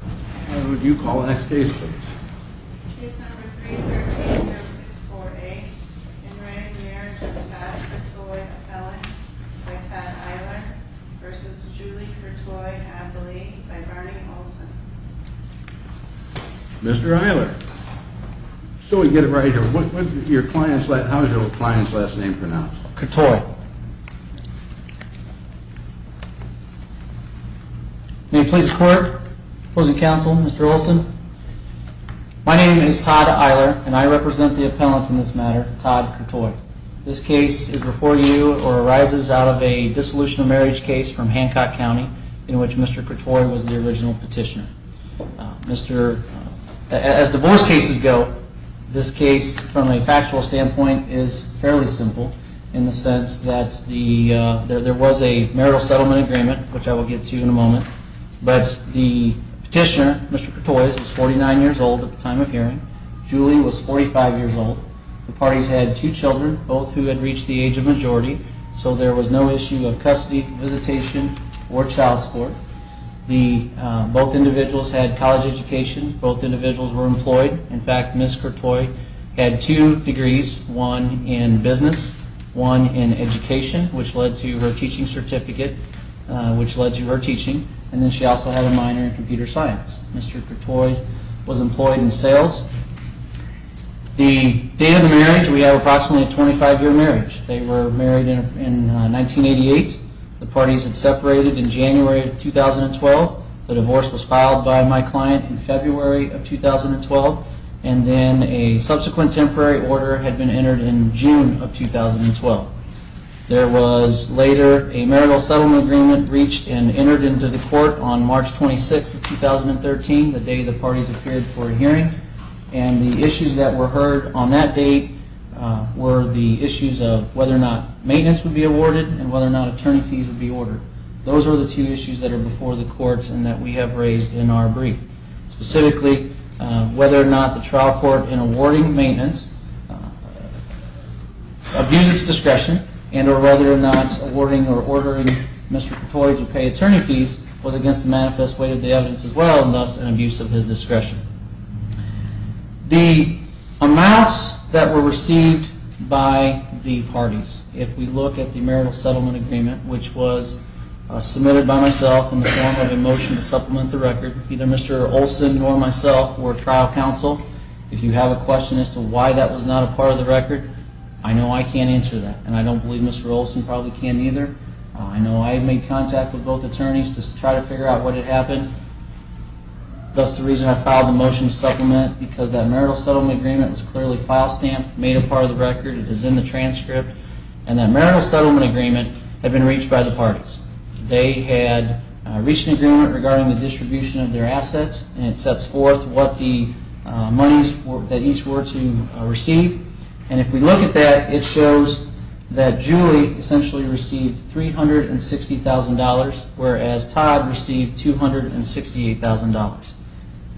Would you call the next case please. Case number 330648. In writing Marriage of Tad Courtois a Felon by Tad Eiler versus Julie Courtois a Felon by Barney Olson. Mr. Eiler. So we get it right here. What was your client's last name pronounced? Courtois. May it please the court, opposing counsel, Mr. Olson. My name is Tad Eiler and I represent the appellant in this matter, Tad Courtois. This case is before you or arises out of a dissolution of marriage case from Hancock County in which Mr. Courtois was the original petitioner. As divorce cases go, this case from a factual standpoint is fairly simple in the sense that there was a marital settlement agreement, which I will get to in a moment. But the petitioner, Mr. Courtois, was 49 years old at the time of hearing. Julie was 45 years old. The parties had two children, both who had reached the age of majority. So there was no issue of custody visitation or child support. Both individuals had college education. Both individuals were employed. In fact, Ms. Courtois had two degrees, one in business, one in education, which led to her teaching certificate, which led to her teaching. And then she also had a minor in computer science. Mr. Courtois was employed in sales. The date of the marriage, we have approximately a 25-year marriage. They were married in 1988. The parties had separated in January of 2012. The divorce was filed by my client in February of 2012. And then a subsequent temporary order had been entered in June of 2012. There was later a marital settlement agreement reached and entered into the court on March 26, 2013, the day the parties appeared for a hearing. And the issues that were heard on that date were the issues of whether or not maintenance would be awarded and whether or not attorney fees would be ordered. Those are the two issues that are before the courts and that we have raised in our brief. Specifically, whether or not the trial court in awarding maintenance abused its discretion and or whether or not awarding or ordering Mr. Courtois to pay attorney fees was against the manifest way of the evidence as well and thus an abuse of his discretion. The amounts that were received by the parties, if we look at the marital settlement agreement, which was submitted by myself in the form of a motion to supplement the record, either Mr. Olson or myself or trial counsel, if you have a question as to why that was not a part of the record, I know I can't answer that. And I don't believe Mr. Olson probably can either. I know I made contact with both attorneys to try to figure out what had happened. That's the reason I filed the motion to supplement because that marital settlement agreement was clearly file stamped, made a part of the record, it is in the transcript. And that marital settlement agreement had been reached by the parties. They had reached an agreement regarding the distribution of their assets and it sets forth what the monies that each were to receive. And if we look at that, it shows that Julie essentially received $360,000, whereas Todd received $268,000.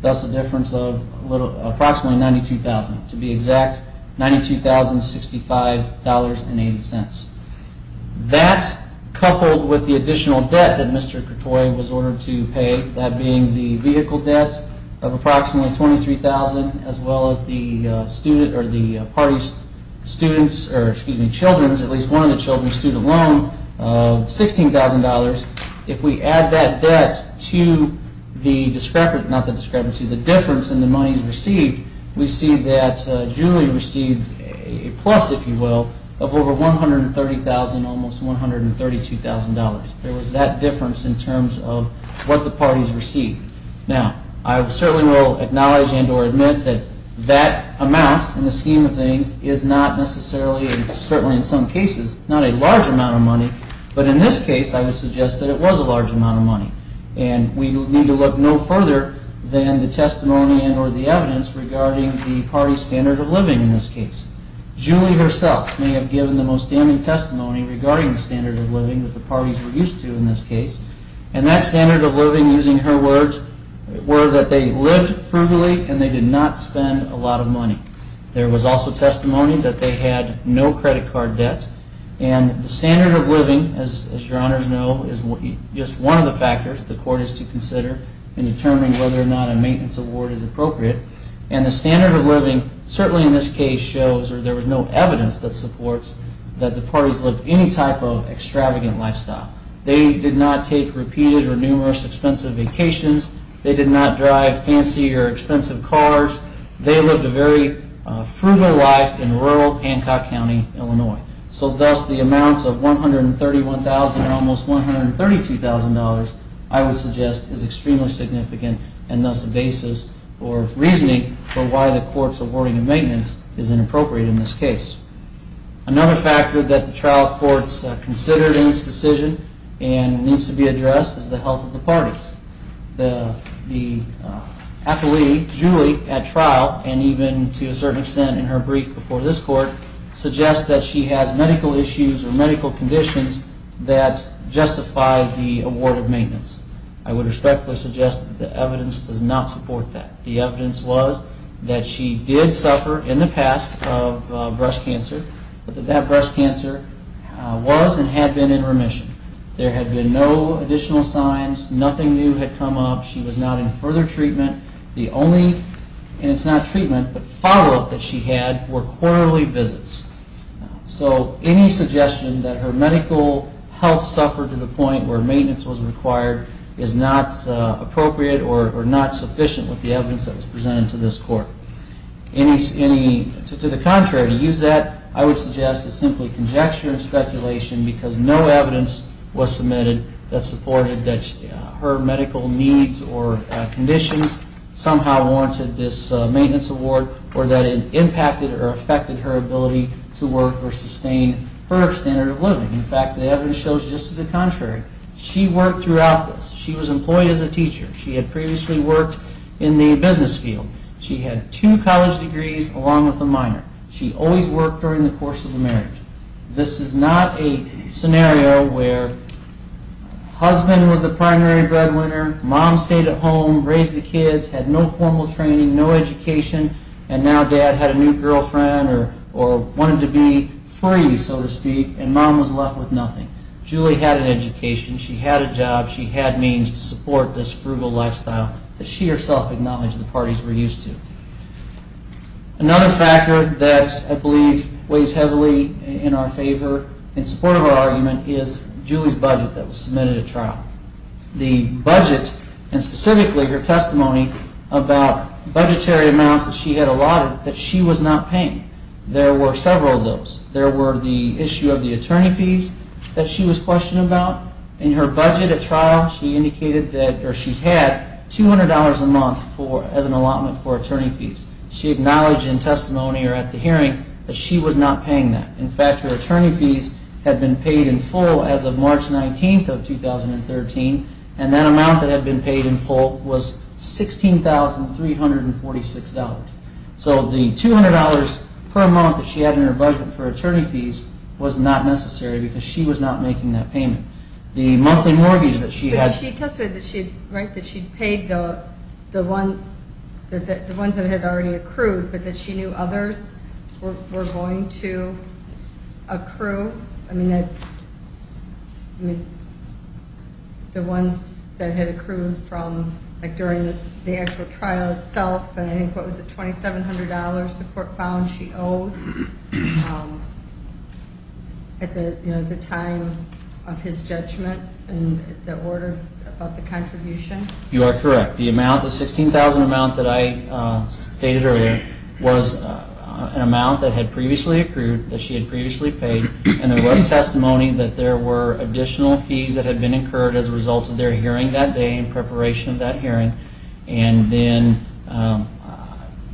That's the difference of approximately $92,000. To be exact, $92,065.80. That, coupled with the additional debt that Mr. Kertoy was ordered to pay, that being the vehicle debt of approximately $23,000, as well as the parties' student loan of $16,000. If we add that debt to the difference in the monies received, we see that Julie received a plus, if you will, of over $130,000, almost $132,000. There was that difference in terms of what the parties received. Now, I certainly will acknowledge and or admit that that amount, in the scheme of things, is not necessarily, and certainly in some cases, not a large amount of money. But in this case, I would suggest that it was a large amount of money. And we need to look no further than the testimony and or the evidence regarding the parties' standard of living in this case. Julie herself may have given the most damning testimony regarding the standard of living that the parties were used to in this case. And that standard of living, using her words, were that they lived frugally and they did not spend a lot of money. There was also testimony that they had no credit card debt. And the standard of living, as your Honors know, is just one of the factors the Court is to consider in determining whether or not a maintenance award is appropriate. And the standard of living, certainly in this case, shows, or there was no evidence that supports, that the parties lived any type of extravagant lifestyle. They did not take repeated or numerous expensive vacations. They did not drive fancy or expensive cars. They lived a very frugal life in rural Pancock County, Illinois. So thus, the amount of $131,000 and almost $132,000, I would suggest, is extremely significant and thus a basis for reasoning for why the Court's awarding of maintenance is inappropriate in this case. Another factor that the trial courts considered in this decision and needs to be addressed is the health of the parties. The appellee, Julie, at trial, and even to a certain extent in her brief before this Court, suggests that she has medical issues or medical conditions that justify the award of maintenance. I would respectfully suggest that the evidence does not support that. The evidence was that she did suffer in the past of breast cancer, but that that breast cancer was and had been in remission. There had been no additional signs, nothing new had come up, she was not in further treatment. The only, and it's not treatment, but follow-up that she had were quarterly visits. So any suggestion that her medical health suffered to the point where maintenance was required is not appropriate or not sufficient with the evidence that was presented to this Court. To the contrary, to use that, I would suggest it's simply conjecture and speculation because no evidence was submitted that supported that her medical needs or conditions somehow warranted this maintenance award or that it impacted or affected her ability to work or sustain her standard of living. In fact, the evidence shows just to the contrary. She worked throughout this. She was employed as a teacher. She had previously worked in the business field. She had two college degrees along with a minor. She always worked during the course of the marriage. This is not a scenario where husband was the primary breadwinner, mom stayed at home, raised the kids, had no formal training, no education, and now dad had a new girlfriend or wanted to be free, so to speak, and mom was left with nothing. Julie had an education. She had a job. She had means to support this frugal lifestyle that she herself acknowledged the parties were used to. Another factor that I believe weighs heavily in our favor, in support of our argument, is Julie's budget that was submitted at trial. The budget and specifically her testimony about budgetary amounts that she had allotted that she was not paying. There were several of those. There were the issue of the attorney fees that she was questioned about. In her budget at trial, she indicated that she had $200 a month as an allotment for attorney fees. She acknowledged in testimony or at the hearing that she was not paying that. In fact, her attorney fees had been paid in full as of March 19th of 2013, and that amount that had been paid in full was $16,346. So the $200 per month that she had in her budget for attorney fees was not necessary because she was not making that payment. The monthly mortgage that she had... But she testified that she had paid the ones that had already accrued, but that she knew others were going to accrue. I mean, the ones that had accrued from, like, during the actual trial itself. And I think, what was it, $2,700 the court found she owed at the time of his judgment and the order about the contribution? You are correct. The amount, the $16,000 amount that I stated earlier, was an amount that had previously accrued, that she had previously paid, and there was testimony that there were additional fees that had been incurred as a result of their hearing that day in preparation of that hearing. And then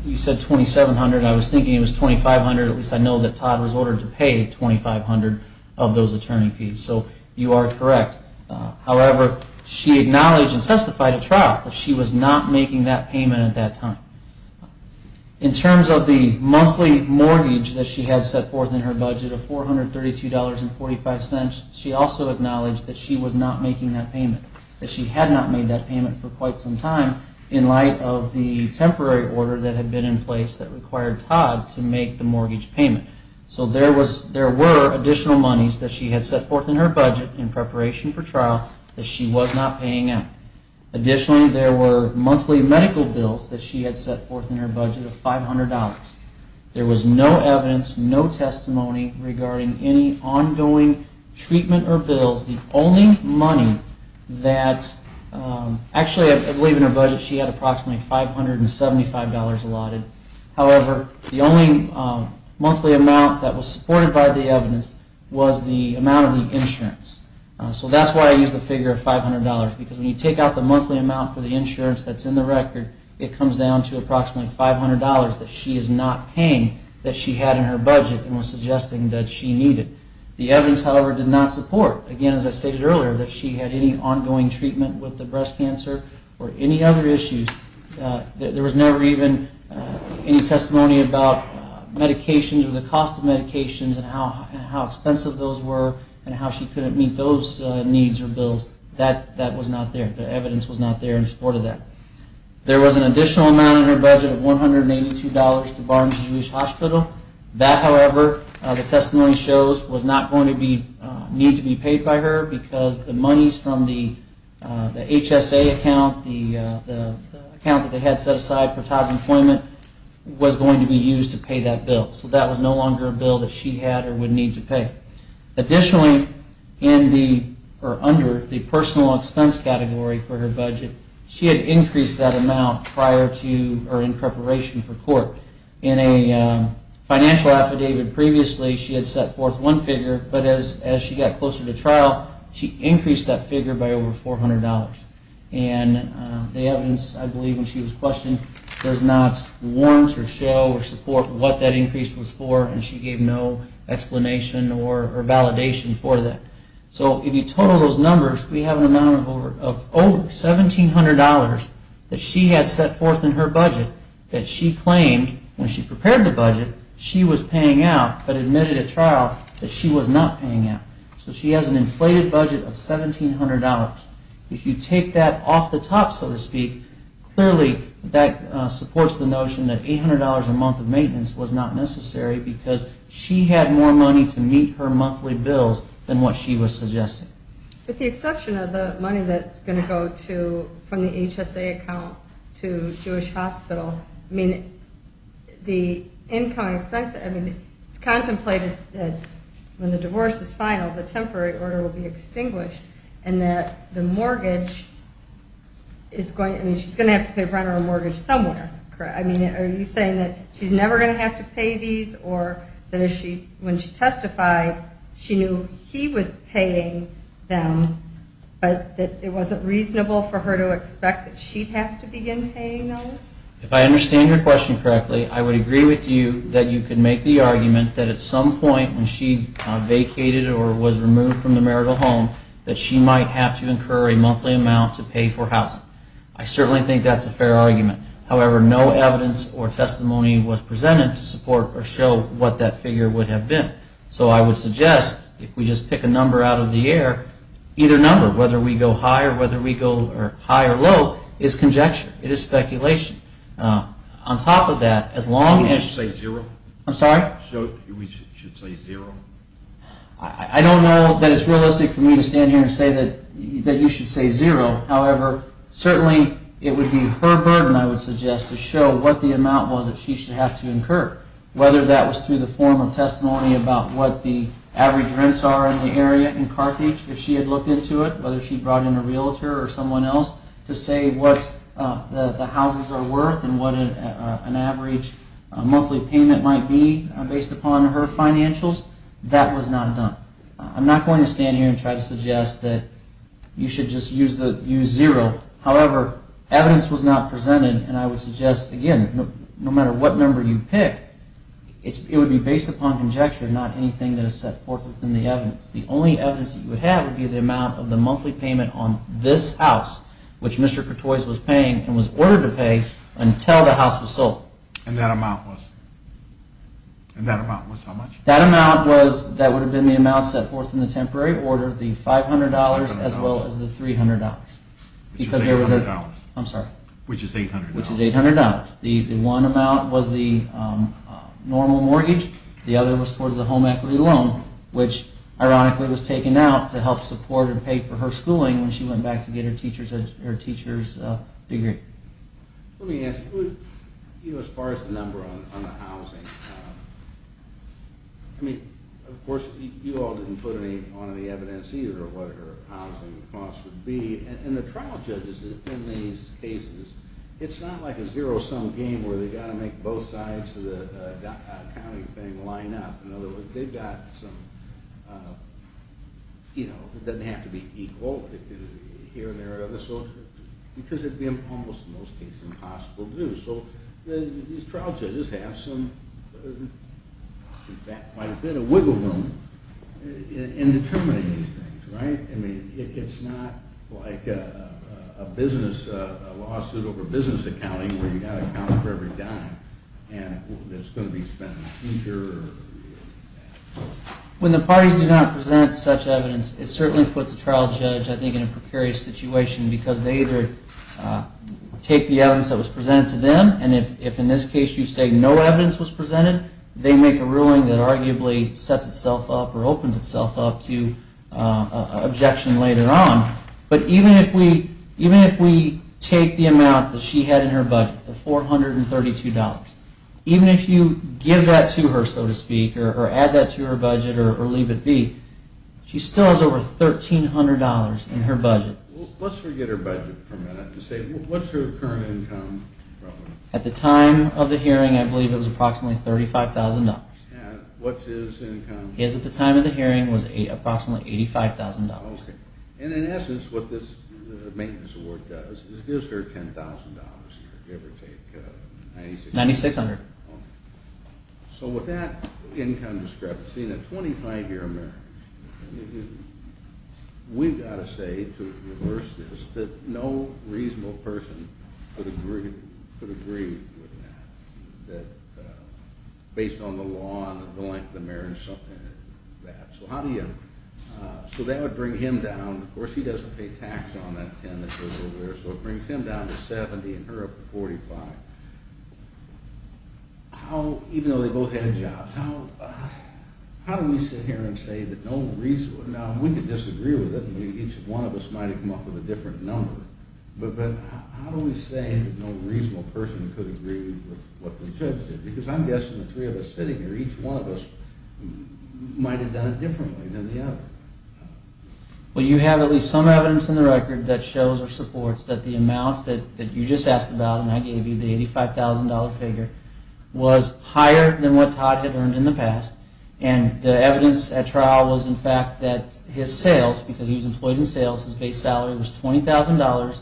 you said $2,700. I was thinking it was $2,500. At least I know that Todd was ordered to pay $2,500 of those attorney fees. So you are correct. However, she acknowledged and testified at trial that she was not making that payment at that time. In terms of the monthly mortgage that she had set forth in her budget of $432.45, she also acknowledged that she was not making that payment. That she had not made that payment for quite some time in light of the temporary order that had been in place that required Todd to make the mortgage payment. So there were additional monies that she had set forth in her budget in preparation for trial that she was not paying out. Additionally, there were monthly medical bills that she had set forth in her budget of $500. There was no evidence, no testimony regarding any ongoing treatment or bills. The only money that, actually I believe in her budget she had approximately $575 allotted. However, the only monthly amount that was supported by the evidence was the amount of the insurance. So that's why I use the figure of $500. Because when you take out the monthly amount for the insurance that's in the record, it comes down to approximately $500 that she is not paying that she had in her budget and was suggesting that she needed. The evidence, however, did not support, again, as I stated earlier, that she had any ongoing treatment with the breast cancer or any other issues. There was never even any testimony about medications or the cost of medications and how expensive those were and how she couldn't meet those costs. I think those needs or bills, that was not there. The evidence was not there in support of that. There was an additional amount in her budget of $182 to Barnes-Jewish Hospital. That, however, the testimony shows, was not going to need to be paid by her because the monies from the HSA account, the account that they had set aside for Todd's employment, was going to be used to pay that bill. So that was no longer a bill that she had or would need to pay. Additionally, under the personal expense category for her budget, she had increased that amount prior to or in preparation for court. In a financial affidavit previously, she had set forth one figure, but as she got closer to trial, she increased that figure by over $400. And the evidence, I believe, when she was questioned, does not warrant or show or support what that increase was for, and she gave no explanation or validation for that. So if you total those numbers, we have an amount of over $1,700 that she had set forth in her budget that she claimed when she prepared the budget, she was paying out, but admitted at trial that she was not paying out. So she has an inflated budget of $1,700. If you take that off the top, so to speak, clearly that supports the notion that $800 a month of monthly bills than what she was suggesting. With the exception of the money that's going to go from the HSA account to Jewish Hospital, I mean, the income expense, I mean, it's contemplated that when the divorce is final, the temporary order will be extinguished, and that the mortgage is going, I mean, she's going to have to pay rent or mortgage somewhere, correct? I mean, are you saying that she's never going to have to pay these, or that when she gets married and she's testified, she knew he was paying them, but that it wasn't reasonable for her to expect that she'd have to begin paying those? If I understand your question correctly, I would agree with you that you could make the argument that at some point when she vacated or was removed from the marital home, that she might have to incur a monthly amount to pay for housing. I certainly think that's a fair argument. However, no evidence or testimony was presented to support or show what that figure would have been. So I would suggest if we just pick a number out of the air, either number, whether we go high or whether we go high or low, is conjecture. It is speculation. On top of that, as long as... We should say zero? I don't know that it's realistic for me to stand here and say that you should say zero. However, certainly it would be her burden, I would suggest, to show what the amount was that she should have to incur. Whether that was through the form of testimony about what the average rents are in the area in Carthage, if she had looked into it, whether she brought in a realtor or someone else to say what the houses are worth and what an average monthly payment might be based upon her financials, that was not done. I'm not going to stand here and try to suggest that you should just use zero. However, evidence was not presented and I would suggest, again, no matter what number you pick, it would be based upon conjecture, not anything that is set forth in the evidence. The only evidence that you would have would be the amount of the monthly payment on this house, which Mr. Courtois was paying and was ordered to pay until the house was sold. And that amount was? And that amount was how much? That amount was, that would have been the amount set forth in the temporary order, the $500 as well as the $300. Which is $800. I'm sorry. Which is $800. The one amount was the normal mortgage, the other was towards the home equity loan, which ironically was taken out to help support and pay for her schooling when she went back to get her teacher's degree. Let me ask, as far as the number on the housing, I mean, of course you all didn't put any on the evidence either of what her housing costs would be, and the trial judges in these cases, it's not like a zero-sum game where they've got to make both sides of the county thing line up. In other words, they've got some, you know, it doesn't have to be equal here and there, because it would be almost in most cases impossible to do. So these trial judges have some wiggle room in determining these things, right? It's not like a business, a lawsuit over business accounting where you've got to account for every dime that's going to be spent. When the parties do not present such evidence, it certainly puts a trial judge I think in a precarious situation because they either take the evidence that was presented to them, and if in this case you say no evidence was presented, they make a ruling that arguably sets itself up or opens itself up to objection later on. But even if we take the amount that she had in her budget, the $432, even if you give that to her, so to speak, or add that to her budget or leave it be, she still has over $1,300 in her budget. At the time of the hearing, I believe it was approximately $35,000. What's his income? And in essence, what this maintenance award does is it gives her $10,000. So with that income discrepancy and a 25-year marriage, we've got to say to reverse this that no reasonable person could agree with that based on the law and the length of the marriage. So that would bring him down. Of course, he doesn't pay tax on that $10,000 that goes over there, so it brings him down to $70,000 and her up to $45,000. Even though they both had jobs, how do we sit here and say that no reasonable person each one of us might have come up with a different number, but how do we say that no reasonable person could agree with what the judge said? Because I'm guessing the three of us sitting here, each one of us might have done it differently than the other. Well, you have at least some evidence in the record that shows or supports that the amounts that you just asked about and I gave you, the $85,000 figure, was higher than what Todd had earned in the past. And the evidence at trial was in fact that his sales, because he was employed in sales, his base salary was $20,000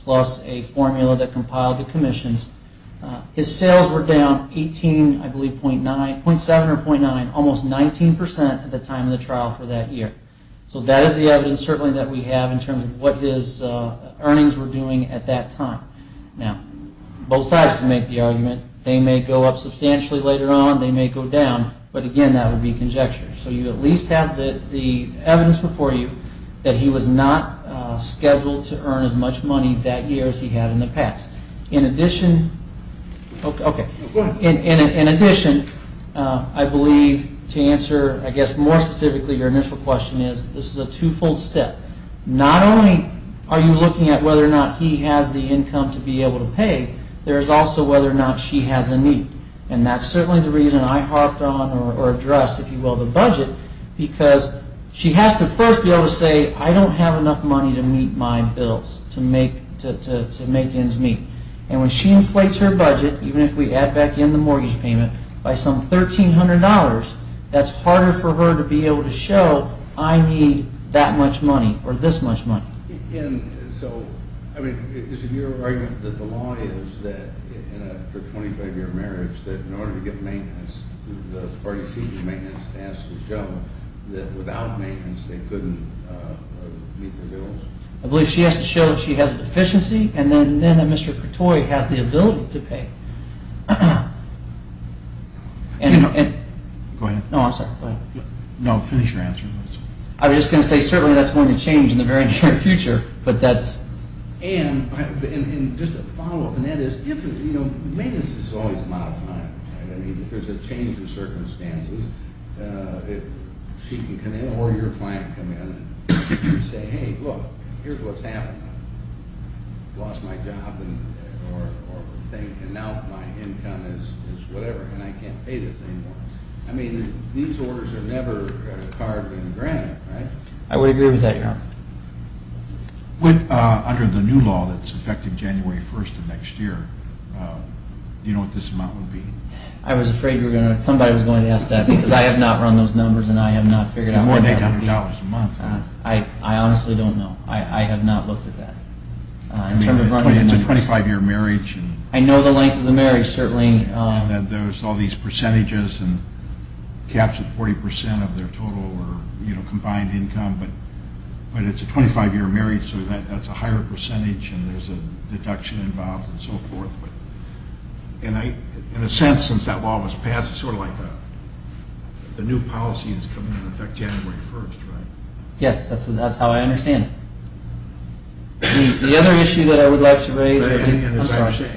plus a formula that compiled the commissions. His sales were down .7 or .9, almost 19% at the time of the trial for that year. So that is the evidence certainly that we have in terms of what his earnings were doing at that time. Now, both sides can make the argument, they may go up substantially later on, they may go down, but again that would be conjecture. So you at least have the evidence before you that he was not scheduled to earn as much money that year as he had in the past. In addition, I believe to answer, I guess more specifically, your initial question is, this is a two-fold step. Not only are you looking at whether or not he has the income to be able to pay, there is also whether or not she has a need. And that is certainly the reason I harped on or addressed, if you will, the budget because she has to first be able to say, I don't have enough money to meet my bills, to make ends meet. And when she inflates her budget, even if we add back in the mortgage payment, by some $1,300 that is harder for her to be able to show, I need that much money or this much money. And so, I mean, is it your argument that the law is that for without maintenance they couldn't meet their bills? I believe she has to show she has a deficiency and then Mr. Kertoy has the ability to pay. Go ahead. No, I'm sorry. No, finish your answer. I was just going to say certainly that is going to change in the very near future. And just to follow up on that is, maintenance is always a matter of time. If there is a change in circumstances, she can come in or your client come in and say, hey, look, here is what is happening. I lost my job or thing and now my income is whatever and I can't pay this anymore. I mean, these orders are never carved in granite, right? I would agree with that, yeah. Under the new law that is effective January 1st of next year, do you know what this amount would be? I was afraid somebody was going to ask that because I have not run those numbers and I have not figured out. More than $100 a month. I honestly don't know. I have not looked at that. It is a 25 year marriage. I know the length of the marriage, certainly. There is all these percentages and caps at 40% of their total or combined income. But it is a 25 year marriage so that is a higher percentage and there is a deduction involved and so forth. In a sense, since that law was passed, it is sort of like a new policy that is coming into effect January 1st, right? Yes, that is how I understand it. The other issue that I would like to raise, I am sorry.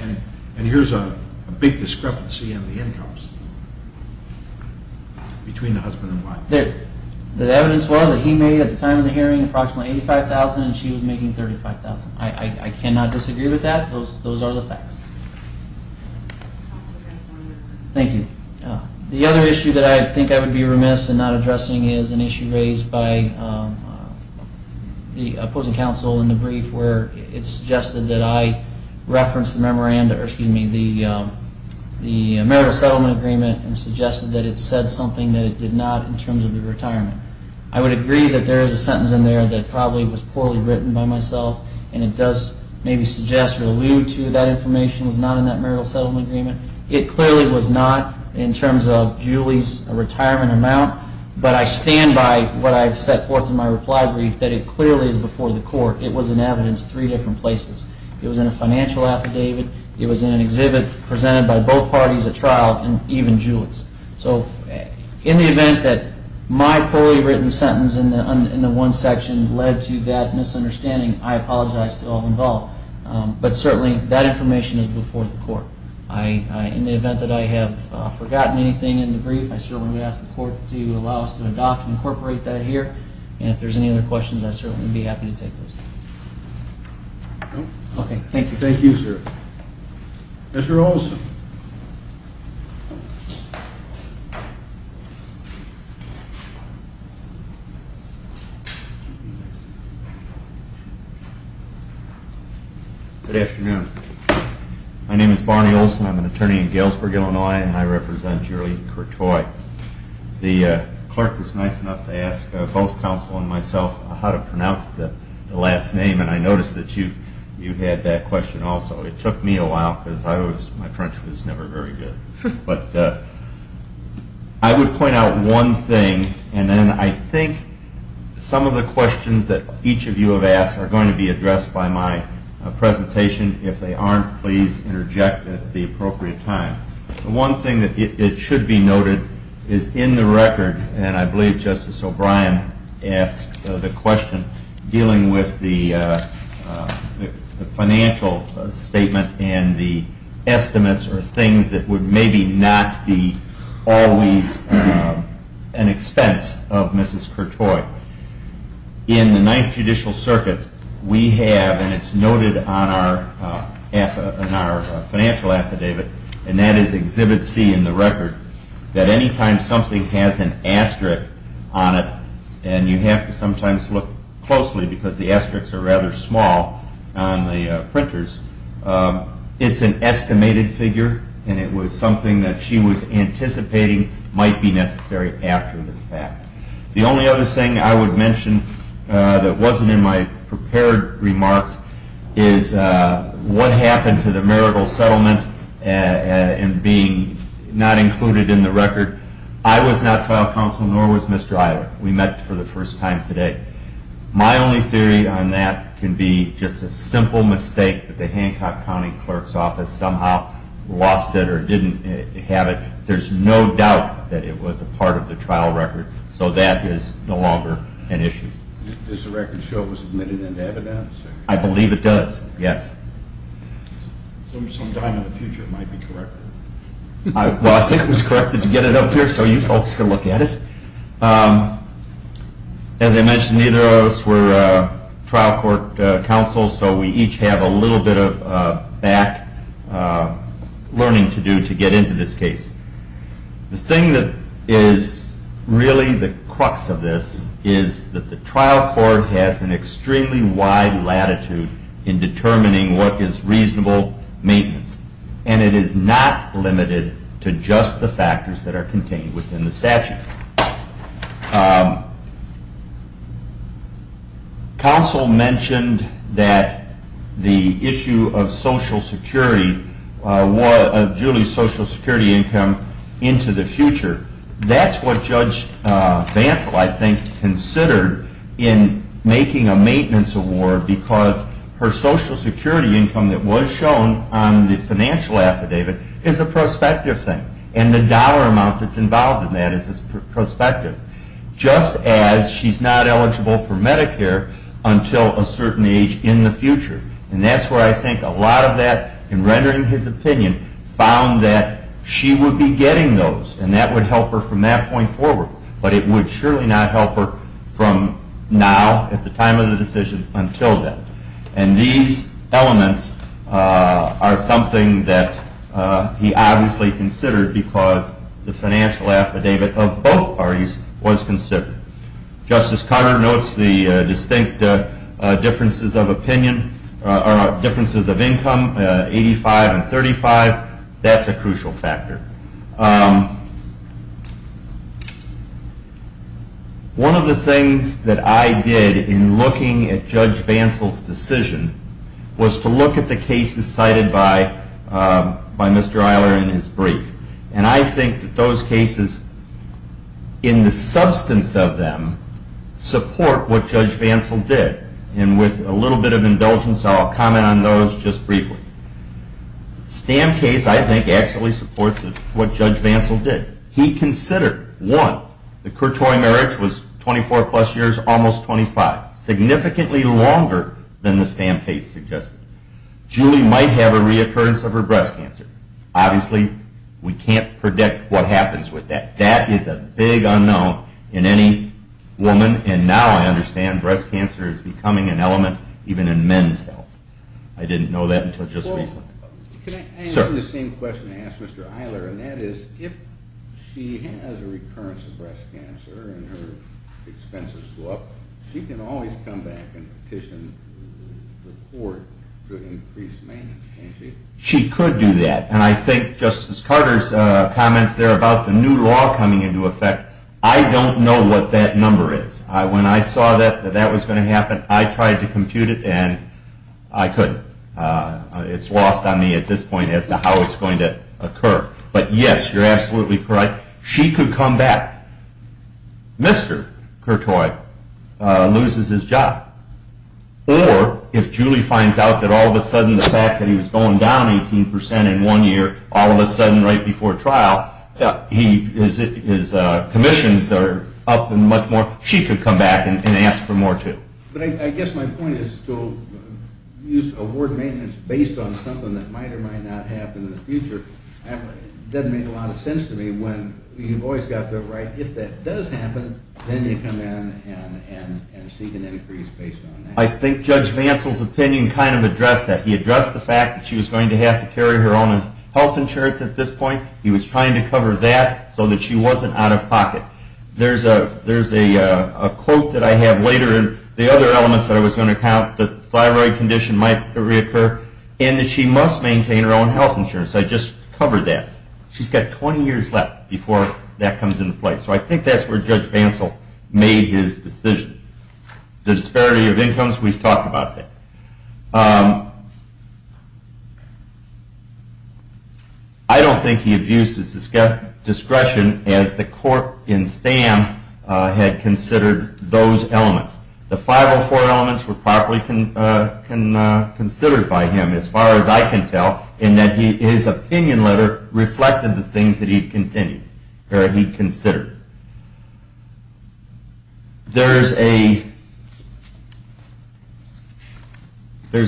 And here is a big discrepancy in the incomes between the husband and wife. The evidence was that he made at the time of the hearing approximately $85,000 and she was making $35,000. I cannot disagree with that. Those are the facts. Thank you. The other issue that I think I would be remiss in not addressing is an issue raised by the opposing counsel in the brief where it suggested that I reference the memorandum, excuse me, the marital settlement agreement and suggested that it said something that it did not in terms of the retirement. I would agree that there is a sentence in there that probably was poorly written by myself and it does maybe suggest or allude to that information was not in that marital settlement agreement. It clearly was not in terms of Julie's retirement amount, but I stand by what I have set forth in my reply brief that it clearly is before the court. It was in evidence three different places. It was in a financial affidavit. It was in an exhibit presented by both parties at trial and even Julie's. So in the event that my poorly written sentence in the one section led to that misunderstanding, I apologize to all involved. But certainly that information is before the court. In the event that I have forgotten anything in the brief, I certainly ask the court to allow us to adopt and incorporate that here. And if there's any other questions, I certainly would be happy to take those. Thank you, sir. Mr. Olson. Good afternoon. My name is Barney Olson. I'm an attorney in Galesburg, Illinois, and I represent Julie Courtois. The clerk was nice enough to ask both counsel and myself how to pronounce the last name. And I noticed that you had that question also. It took me a while because my French was never very good. But I would point out one thing, and then I think some of the questions that each of you have asked are going to be addressed by my presentation. If they aren't, please interject at the appropriate time. The one thing that should be noted is in the record, and I believe Justice O'Brien asked the question dealing with the financial statement and the estimates or things that would maybe not be always an expense of Mrs. Courtois. In the Ninth Judicial Circuit, we have, and it's noted on our financial affidavit, and that is Exhibit C in the record, that any time something has an asterisk on it, and you have to sometimes look closely because the asterisks are rather small on the printers, it's an estimated figure and it was something that she was anticipating might be necessary after the fact. The only other thing I would mention that wasn't in my prepared remarks is what happened to the marital settlement and being not included in the record. I was not trial counsel, nor was Mr. Iowa. We met for the first time today. My only theory on that can be just a simple mistake that the Hancock County Clerk's Office somehow lost it or didn't have it. There's no doubt that it was a part of the trial record, so that is no longer an issue. Does the record show it was admitted into evidence? I believe it does, yes. Sometime in the future it might be corrected. Well, I think it was corrected to get it up here so you folks can look at it. As I mentioned, neither of us were trial court counsel, so we each have a little bit of back learning to do to get into this case. The thing that is really the crux of this is that the trial court has an extremely wide latitude in determining what is reasonable maintenance and it is not limited to just the factors that are contained within the statute. Counsel mentioned that the issue of Julie's Social Security income into the future. That's what Judge Bantle, I think, considered in making a maintenance award because her Social Security income that was shown on the financial affidavit is a prospective thing and the dollar amount that's involved in that is a prospective, just as she's not eligible for Medicare until a certain age in the future. That's where I think a lot of that, in rendering his opinion, found that she would be getting those and that would help her from that point forward, but it would surely not help her from now, at the time of the decision, until then. And these elements are something that he obviously considered because the financial affidavit of both parties was considered. Justice Conner notes the distinct differences of income, 85 and 35, that's a crucial factor. One of the things that I did in looking at Judge Bantle's decision was to look at the cases cited by Mr. Eiler in his brief and I think that those cases, in the substance of them, support what Judge Bantle did and with a little bit of indulgence I'll comment on those just briefly. The Stam case, I think, actually supports what Judge Bantle did. He considered, one, the Courtois marriage was 24 plus years, almost 25, significantly longer than the Stam case suggested. Julie might have a reoccurrence of her breast cancer. Obviously, we can't predict what happens with that. That is a big unknown in any woman and now I understand breast cancer is becoming an element even in men's health. I didn't know that until just recently. Can I ask the same question I asked Mr. Eiler and that is, if she has a recurrence of breast cancer and her expenses go up, she can always come back and petition the court to increase maintenance, can't she? She could do that and I think Justice Carter's comments there about the new law coming into effect, I don't know what that number is. When I saw that that was going to happen, I tried to compute it and I couldn't. It's lost on me at this point as to how it's going to occur. But yes, you're absolutely correct. She could come back. Mr. Courtois loses his job or if Julie finds out that all of a sudden the fact that he was going down 18% in one year, all of a sudden right before trial, his commissions are up much more, she could come back and ask for more too. But I guess my point is to award maintenance based on something that might or might not happen in the future. It doesn't make a lot of sense to me when you've always got the right, if that does happen, then you come in and seek an increase based on that. I think Judge Vancell's opinion kind of addressed that. He addressed the fact that she was going to have to carry her own health insurance at this point. He was trying to cover that so that she wasn't out of pocket. There's a quote that I have later in the other elements that I was going to count that the thyroid condition might reoccur and that she must maintain her own health insurance. I just covered that. She's got 20 years left before that comes into play. So I think that's where Judge Vancell made his decision. The disparity of incomes, we've talked about that. I don't think he abused his discretion as the court in Stan had considered those elements. The 504 elements were properly considered by him, as far as I can tell, in that his opinion letter reflected the things that he'd considered. There's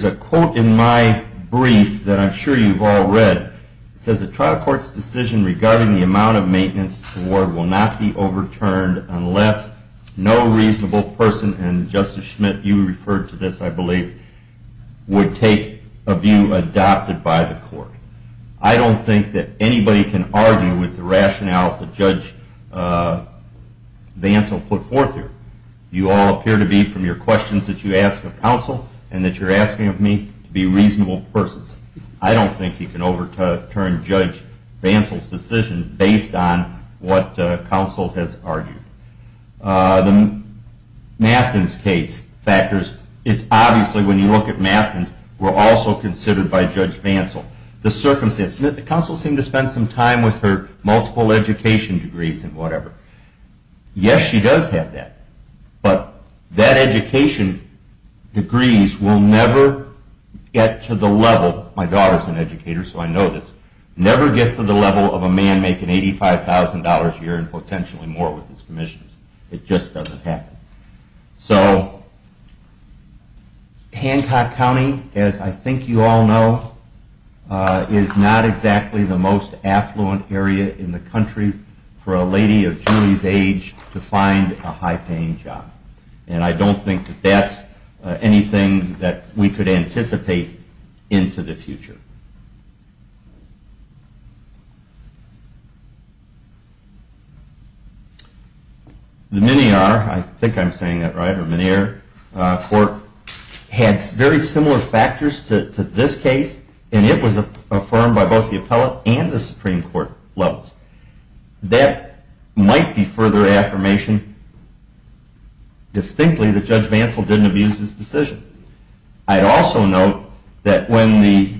a quote in my brief that I'm sure you've all read. It says, A trial court's decision regarding the amount of maintenance award will not be overturned unless no reasonable person, and Justice Schmidt, you referred to this, I believe, would take a view adopted by the court. I don't think that anybody can argue with the rationales that Judge Vancell put forth here. You all appear to be, from your questions that you ask of counsel and that you're asking of me, to be reasonable persons. I don't think you can overturn Judge Vancell's decision based on what counsel has argued. The Mastin's case factors, it's obviously, when you look at Mastin's, were also considered by Judge Vancell. The circumstances. Counsel seemed to spend some time with her multiple education degrees and whatever. Yes, she does have that, but that education degrees will never get to the level, my daughter's an educator, so I know this, never get to the level of a man making $85,000 a year and potentially more with his commissions. It just doesn't happen. So Hancock County, as I think you all know, is not exactly the most affluent area in the country for a lady of Julie's age to find a high-paying job. And I don't think that that's anything that we could anticipate into the future. The Menier, I think I'm saying that right, or Menier Court, had very similar factors to this case and it was affirmed by both the appellate and the Supreme Court levels. That might be further affirmation distinctly that Judge Vancell didn't abuse his decision. I'd also note that when the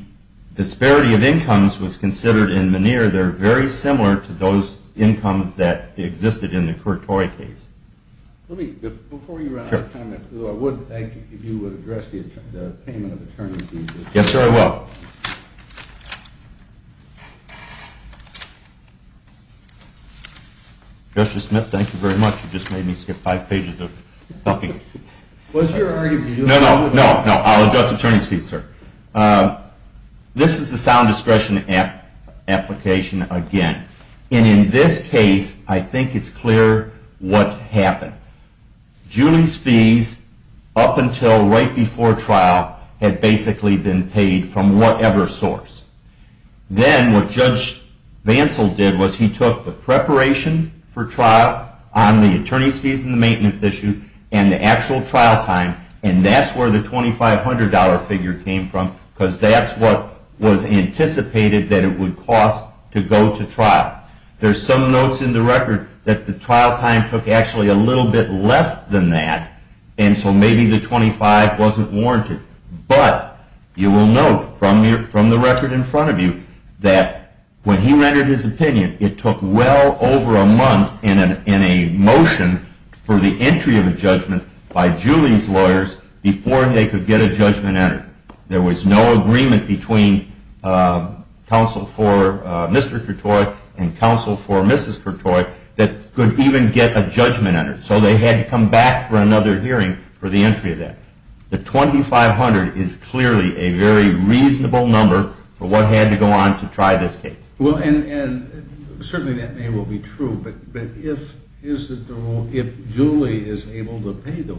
disparity of incomes was considered in Menier, they're very similar to those incomes that existed in the Courtory case. Let me, before you run out of time, I would thank you if you would address the payment of attorney fees. Yes, sir, I will. Justice Smith, thank you very much, you just made me skip five pages of talking. No, no, no, I'll address attorney's fees, sir. This is the sound discretion application again. And in this case, I think it's clear what happened. Julie's fees, up until right before trial, had basically been paid from whatever source. Then what Judge Vancell did was he took the preparation for trial on the attorney's fees and the maintenance issue and the actual trial time, and that's where the $2,500 figure came from, because that's what was anticipated that it would cost to go to trial. There's some notes in the record that the trial time took actually a little bit less than that, and so maybe the $2,500 wasn't warranted. But you will note from the record in front of you that when he rendered his opinion, it took well over a month in a motion for the entry of a judgment by Julie's lawyers before they could get a judgment entered. There was no agreement between counsel for Mr. Courtois and counsel for Mrs. Courtois that could even get a judgment entered, so they had to come back for another hearing for the entry of that. The $2,500 is clearly a very reasonable number for what had to go on to try this case. Well, and certainly that may well be true, but if Julie is able to pay those,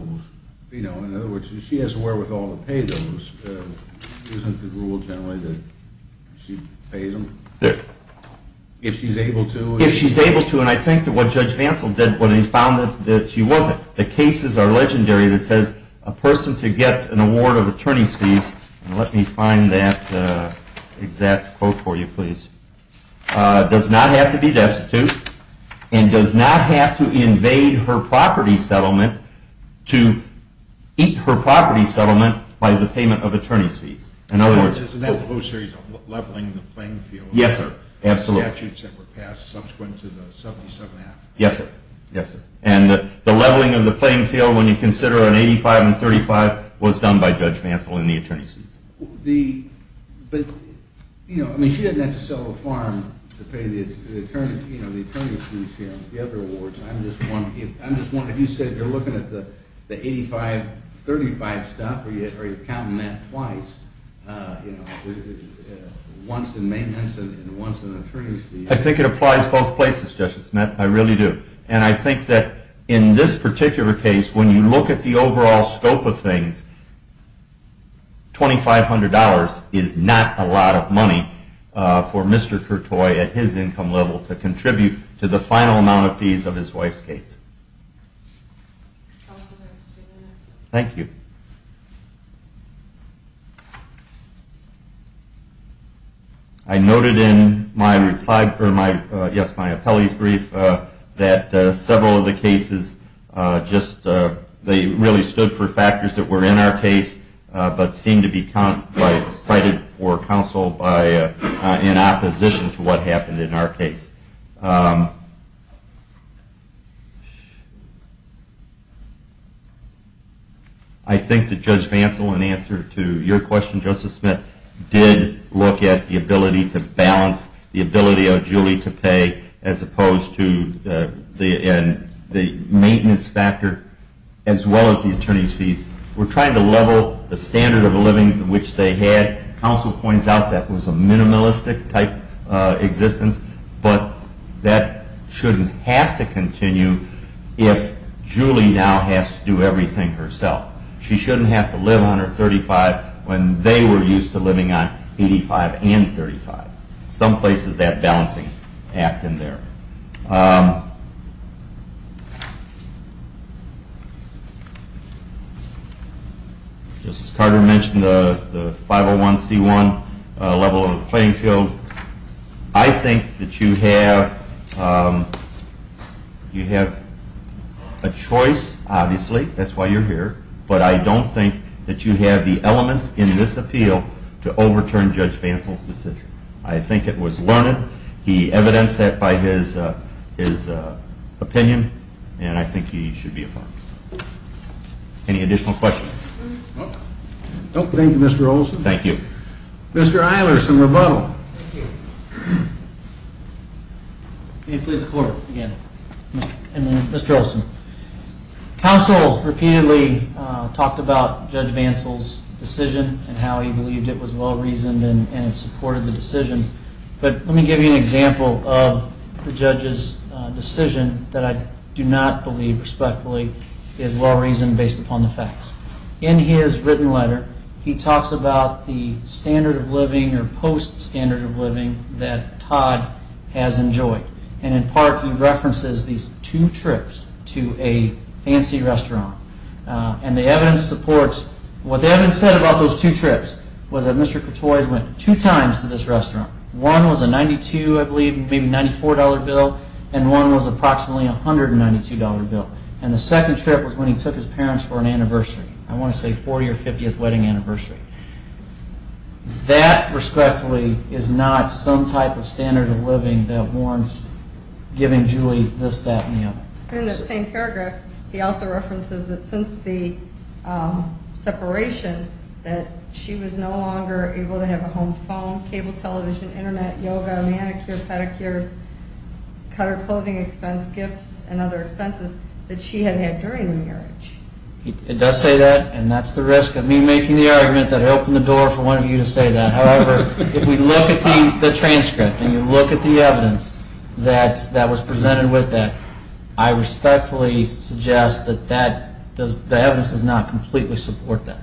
in other words, if she has the wherewithal to pay those, isn't the rule generally that she pays them? Yes. If she's able to? If she's able to, and I think that what Judge Vancell did when he found that she wasn't. The cases are legendary that says a person to get an award of attorney's fees, and let me find that exact quote for you, please, does not have to be destitute and does not have to invade her property settlement to eat her property settlement by the payment of attorney's fees. In other words, isn't that the whole series of leveling the playing field? Yes, sir. The statutes that were passed subsequent to the 1977 act. Yes, sir. And the leveling of the playing field when you consider an 85 and 35 was done by Judge Vancell and the attorney's fees. But, you know, I mean, she doesn't have to sell a farm to pay the attorney's fees, you know, the other awards. I'm just wondering, you said you're looking at the 85, 35 stuff, or are you counting that twice, you know, once in maintenance and once in attorney's fees? I think it applies both places, Justice Smith, I really do. And I think that in this particular case, when you look at the overall scope of things, $2,500 is not a lot of money for Mr. Kertoy at his income level to contribute to the final amount of fees of his wife's case. Thank you. Thank you. I noted in my reply for my – yes, my appellee's brief that several of the cases just – they really stood for factors that were in our case but seemed to be cited for counsel in opposition to what happened in our case. I think that Judge Vancell, in answer to your question, Justice Smith, did look at the ability to balance the ability of Julie to pay as opposed to the maintenance factor as well as the attorney's fees. We're trying to level the standard of living which they had. Counsel points out that was a minimalistic type existence, but that shouldn't have to continue if Julie now has to do everything herself. She shouldn't have to live on her 35 when they were used to living on 85 and 35. Some places that balancing act in there. Justice Carter mentioned the 501C1 level of the playing field. I think that you have a choice, obviously. That's why you're here. But I don't think that you have the elements in this appeal to overturn Judge Vancell's decision. I think it was learned. He evidenced that by his opinion, and I think he should be affirmed. Any additional questions? Thank you, Mr. Olson. Thank you. Mr. Eilers, some rebuttal. Mr. Olson, counsel repeatedly talked about Judge Vancell's decision and how he believed it was well-reasoned and supported the decision. But let me give you an example of the judge's decision that I do not believe respectfully is well-reasoned based upon the facts. In his written letter, he talks about the standard of living or post-standard of living that Todd has enjoyed. And in part, he references these two trips to a fancy restaurant. And the evidence supports what the evidence said about those two trips was that Mr. Cotoy went two times to this restaurant. One was a $92, I believe, maybe $94 bill, and one was approximately a $192 bill. And the second trip was when he took his parents for an anniversary, I want to say 40th or 50th wedding anniversary. That, respectfully, is not some type of standard of living that warrants giving Julie this, that, and the other. And in that same paragraph, he also references that since the separation, that she was no longer able to have a home phone, cable television, internet, yoga, manicure, pedicures, cutter clothing expense, gifts, and other expenses that she had had during the marriage. He does say that, and that's the risk of me making the argument that I opened the door for one of you to say that. However, if we look at the transcript and you look at the evidence that was presented with that, I respectfully suggest that the evidence does not completely support that.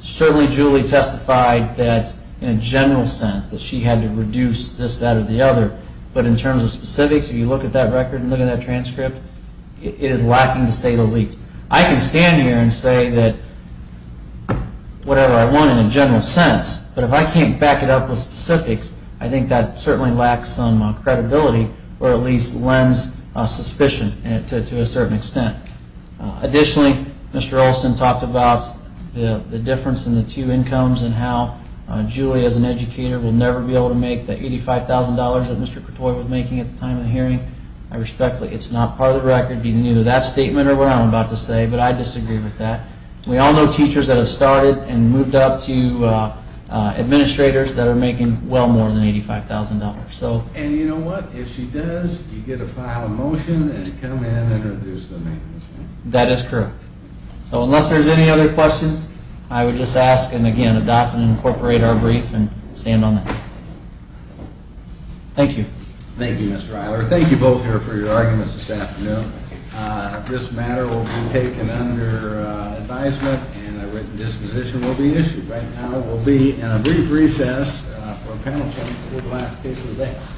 Certainly, Julie testified that, in a general sense, that she had to reduce this, that, or the other. But in terms of specifics, if you look at that record and look at that transcript, it is lacking to say the least. I can stand here and say whatever I want in a general sense, but if I can't back it up with specifics, I think that certainly lacks some credibility or at least lends suspicion to a certain extent. Additionally, Mr. Olson talked about the difference in the two incomes and how Julie, as an educator, will never be able to make the $85,000 that Mr. Cotoy was making at the time of the hearing. I respectfully, it's not part of the record, be it in either that statement or what I'm about to say, but I disagree with that. We all know teachers that have started and moved up to administrators that are making well more than $85,000. And you know what? If she does, you get a file of motion and come in and reduce the maintenance, right? That is correct. So unless there's any other questions, I would just ask and, again, adopt and incorporate our brief and stand on that. Thank you. Thank you, Mr. Eiler. Thank you both here for your arguments this afternoon. This matter will be taken under advisement and a written disposition will be issued. Right now we'll be in a brief recess for a panel discussion. We'll be back.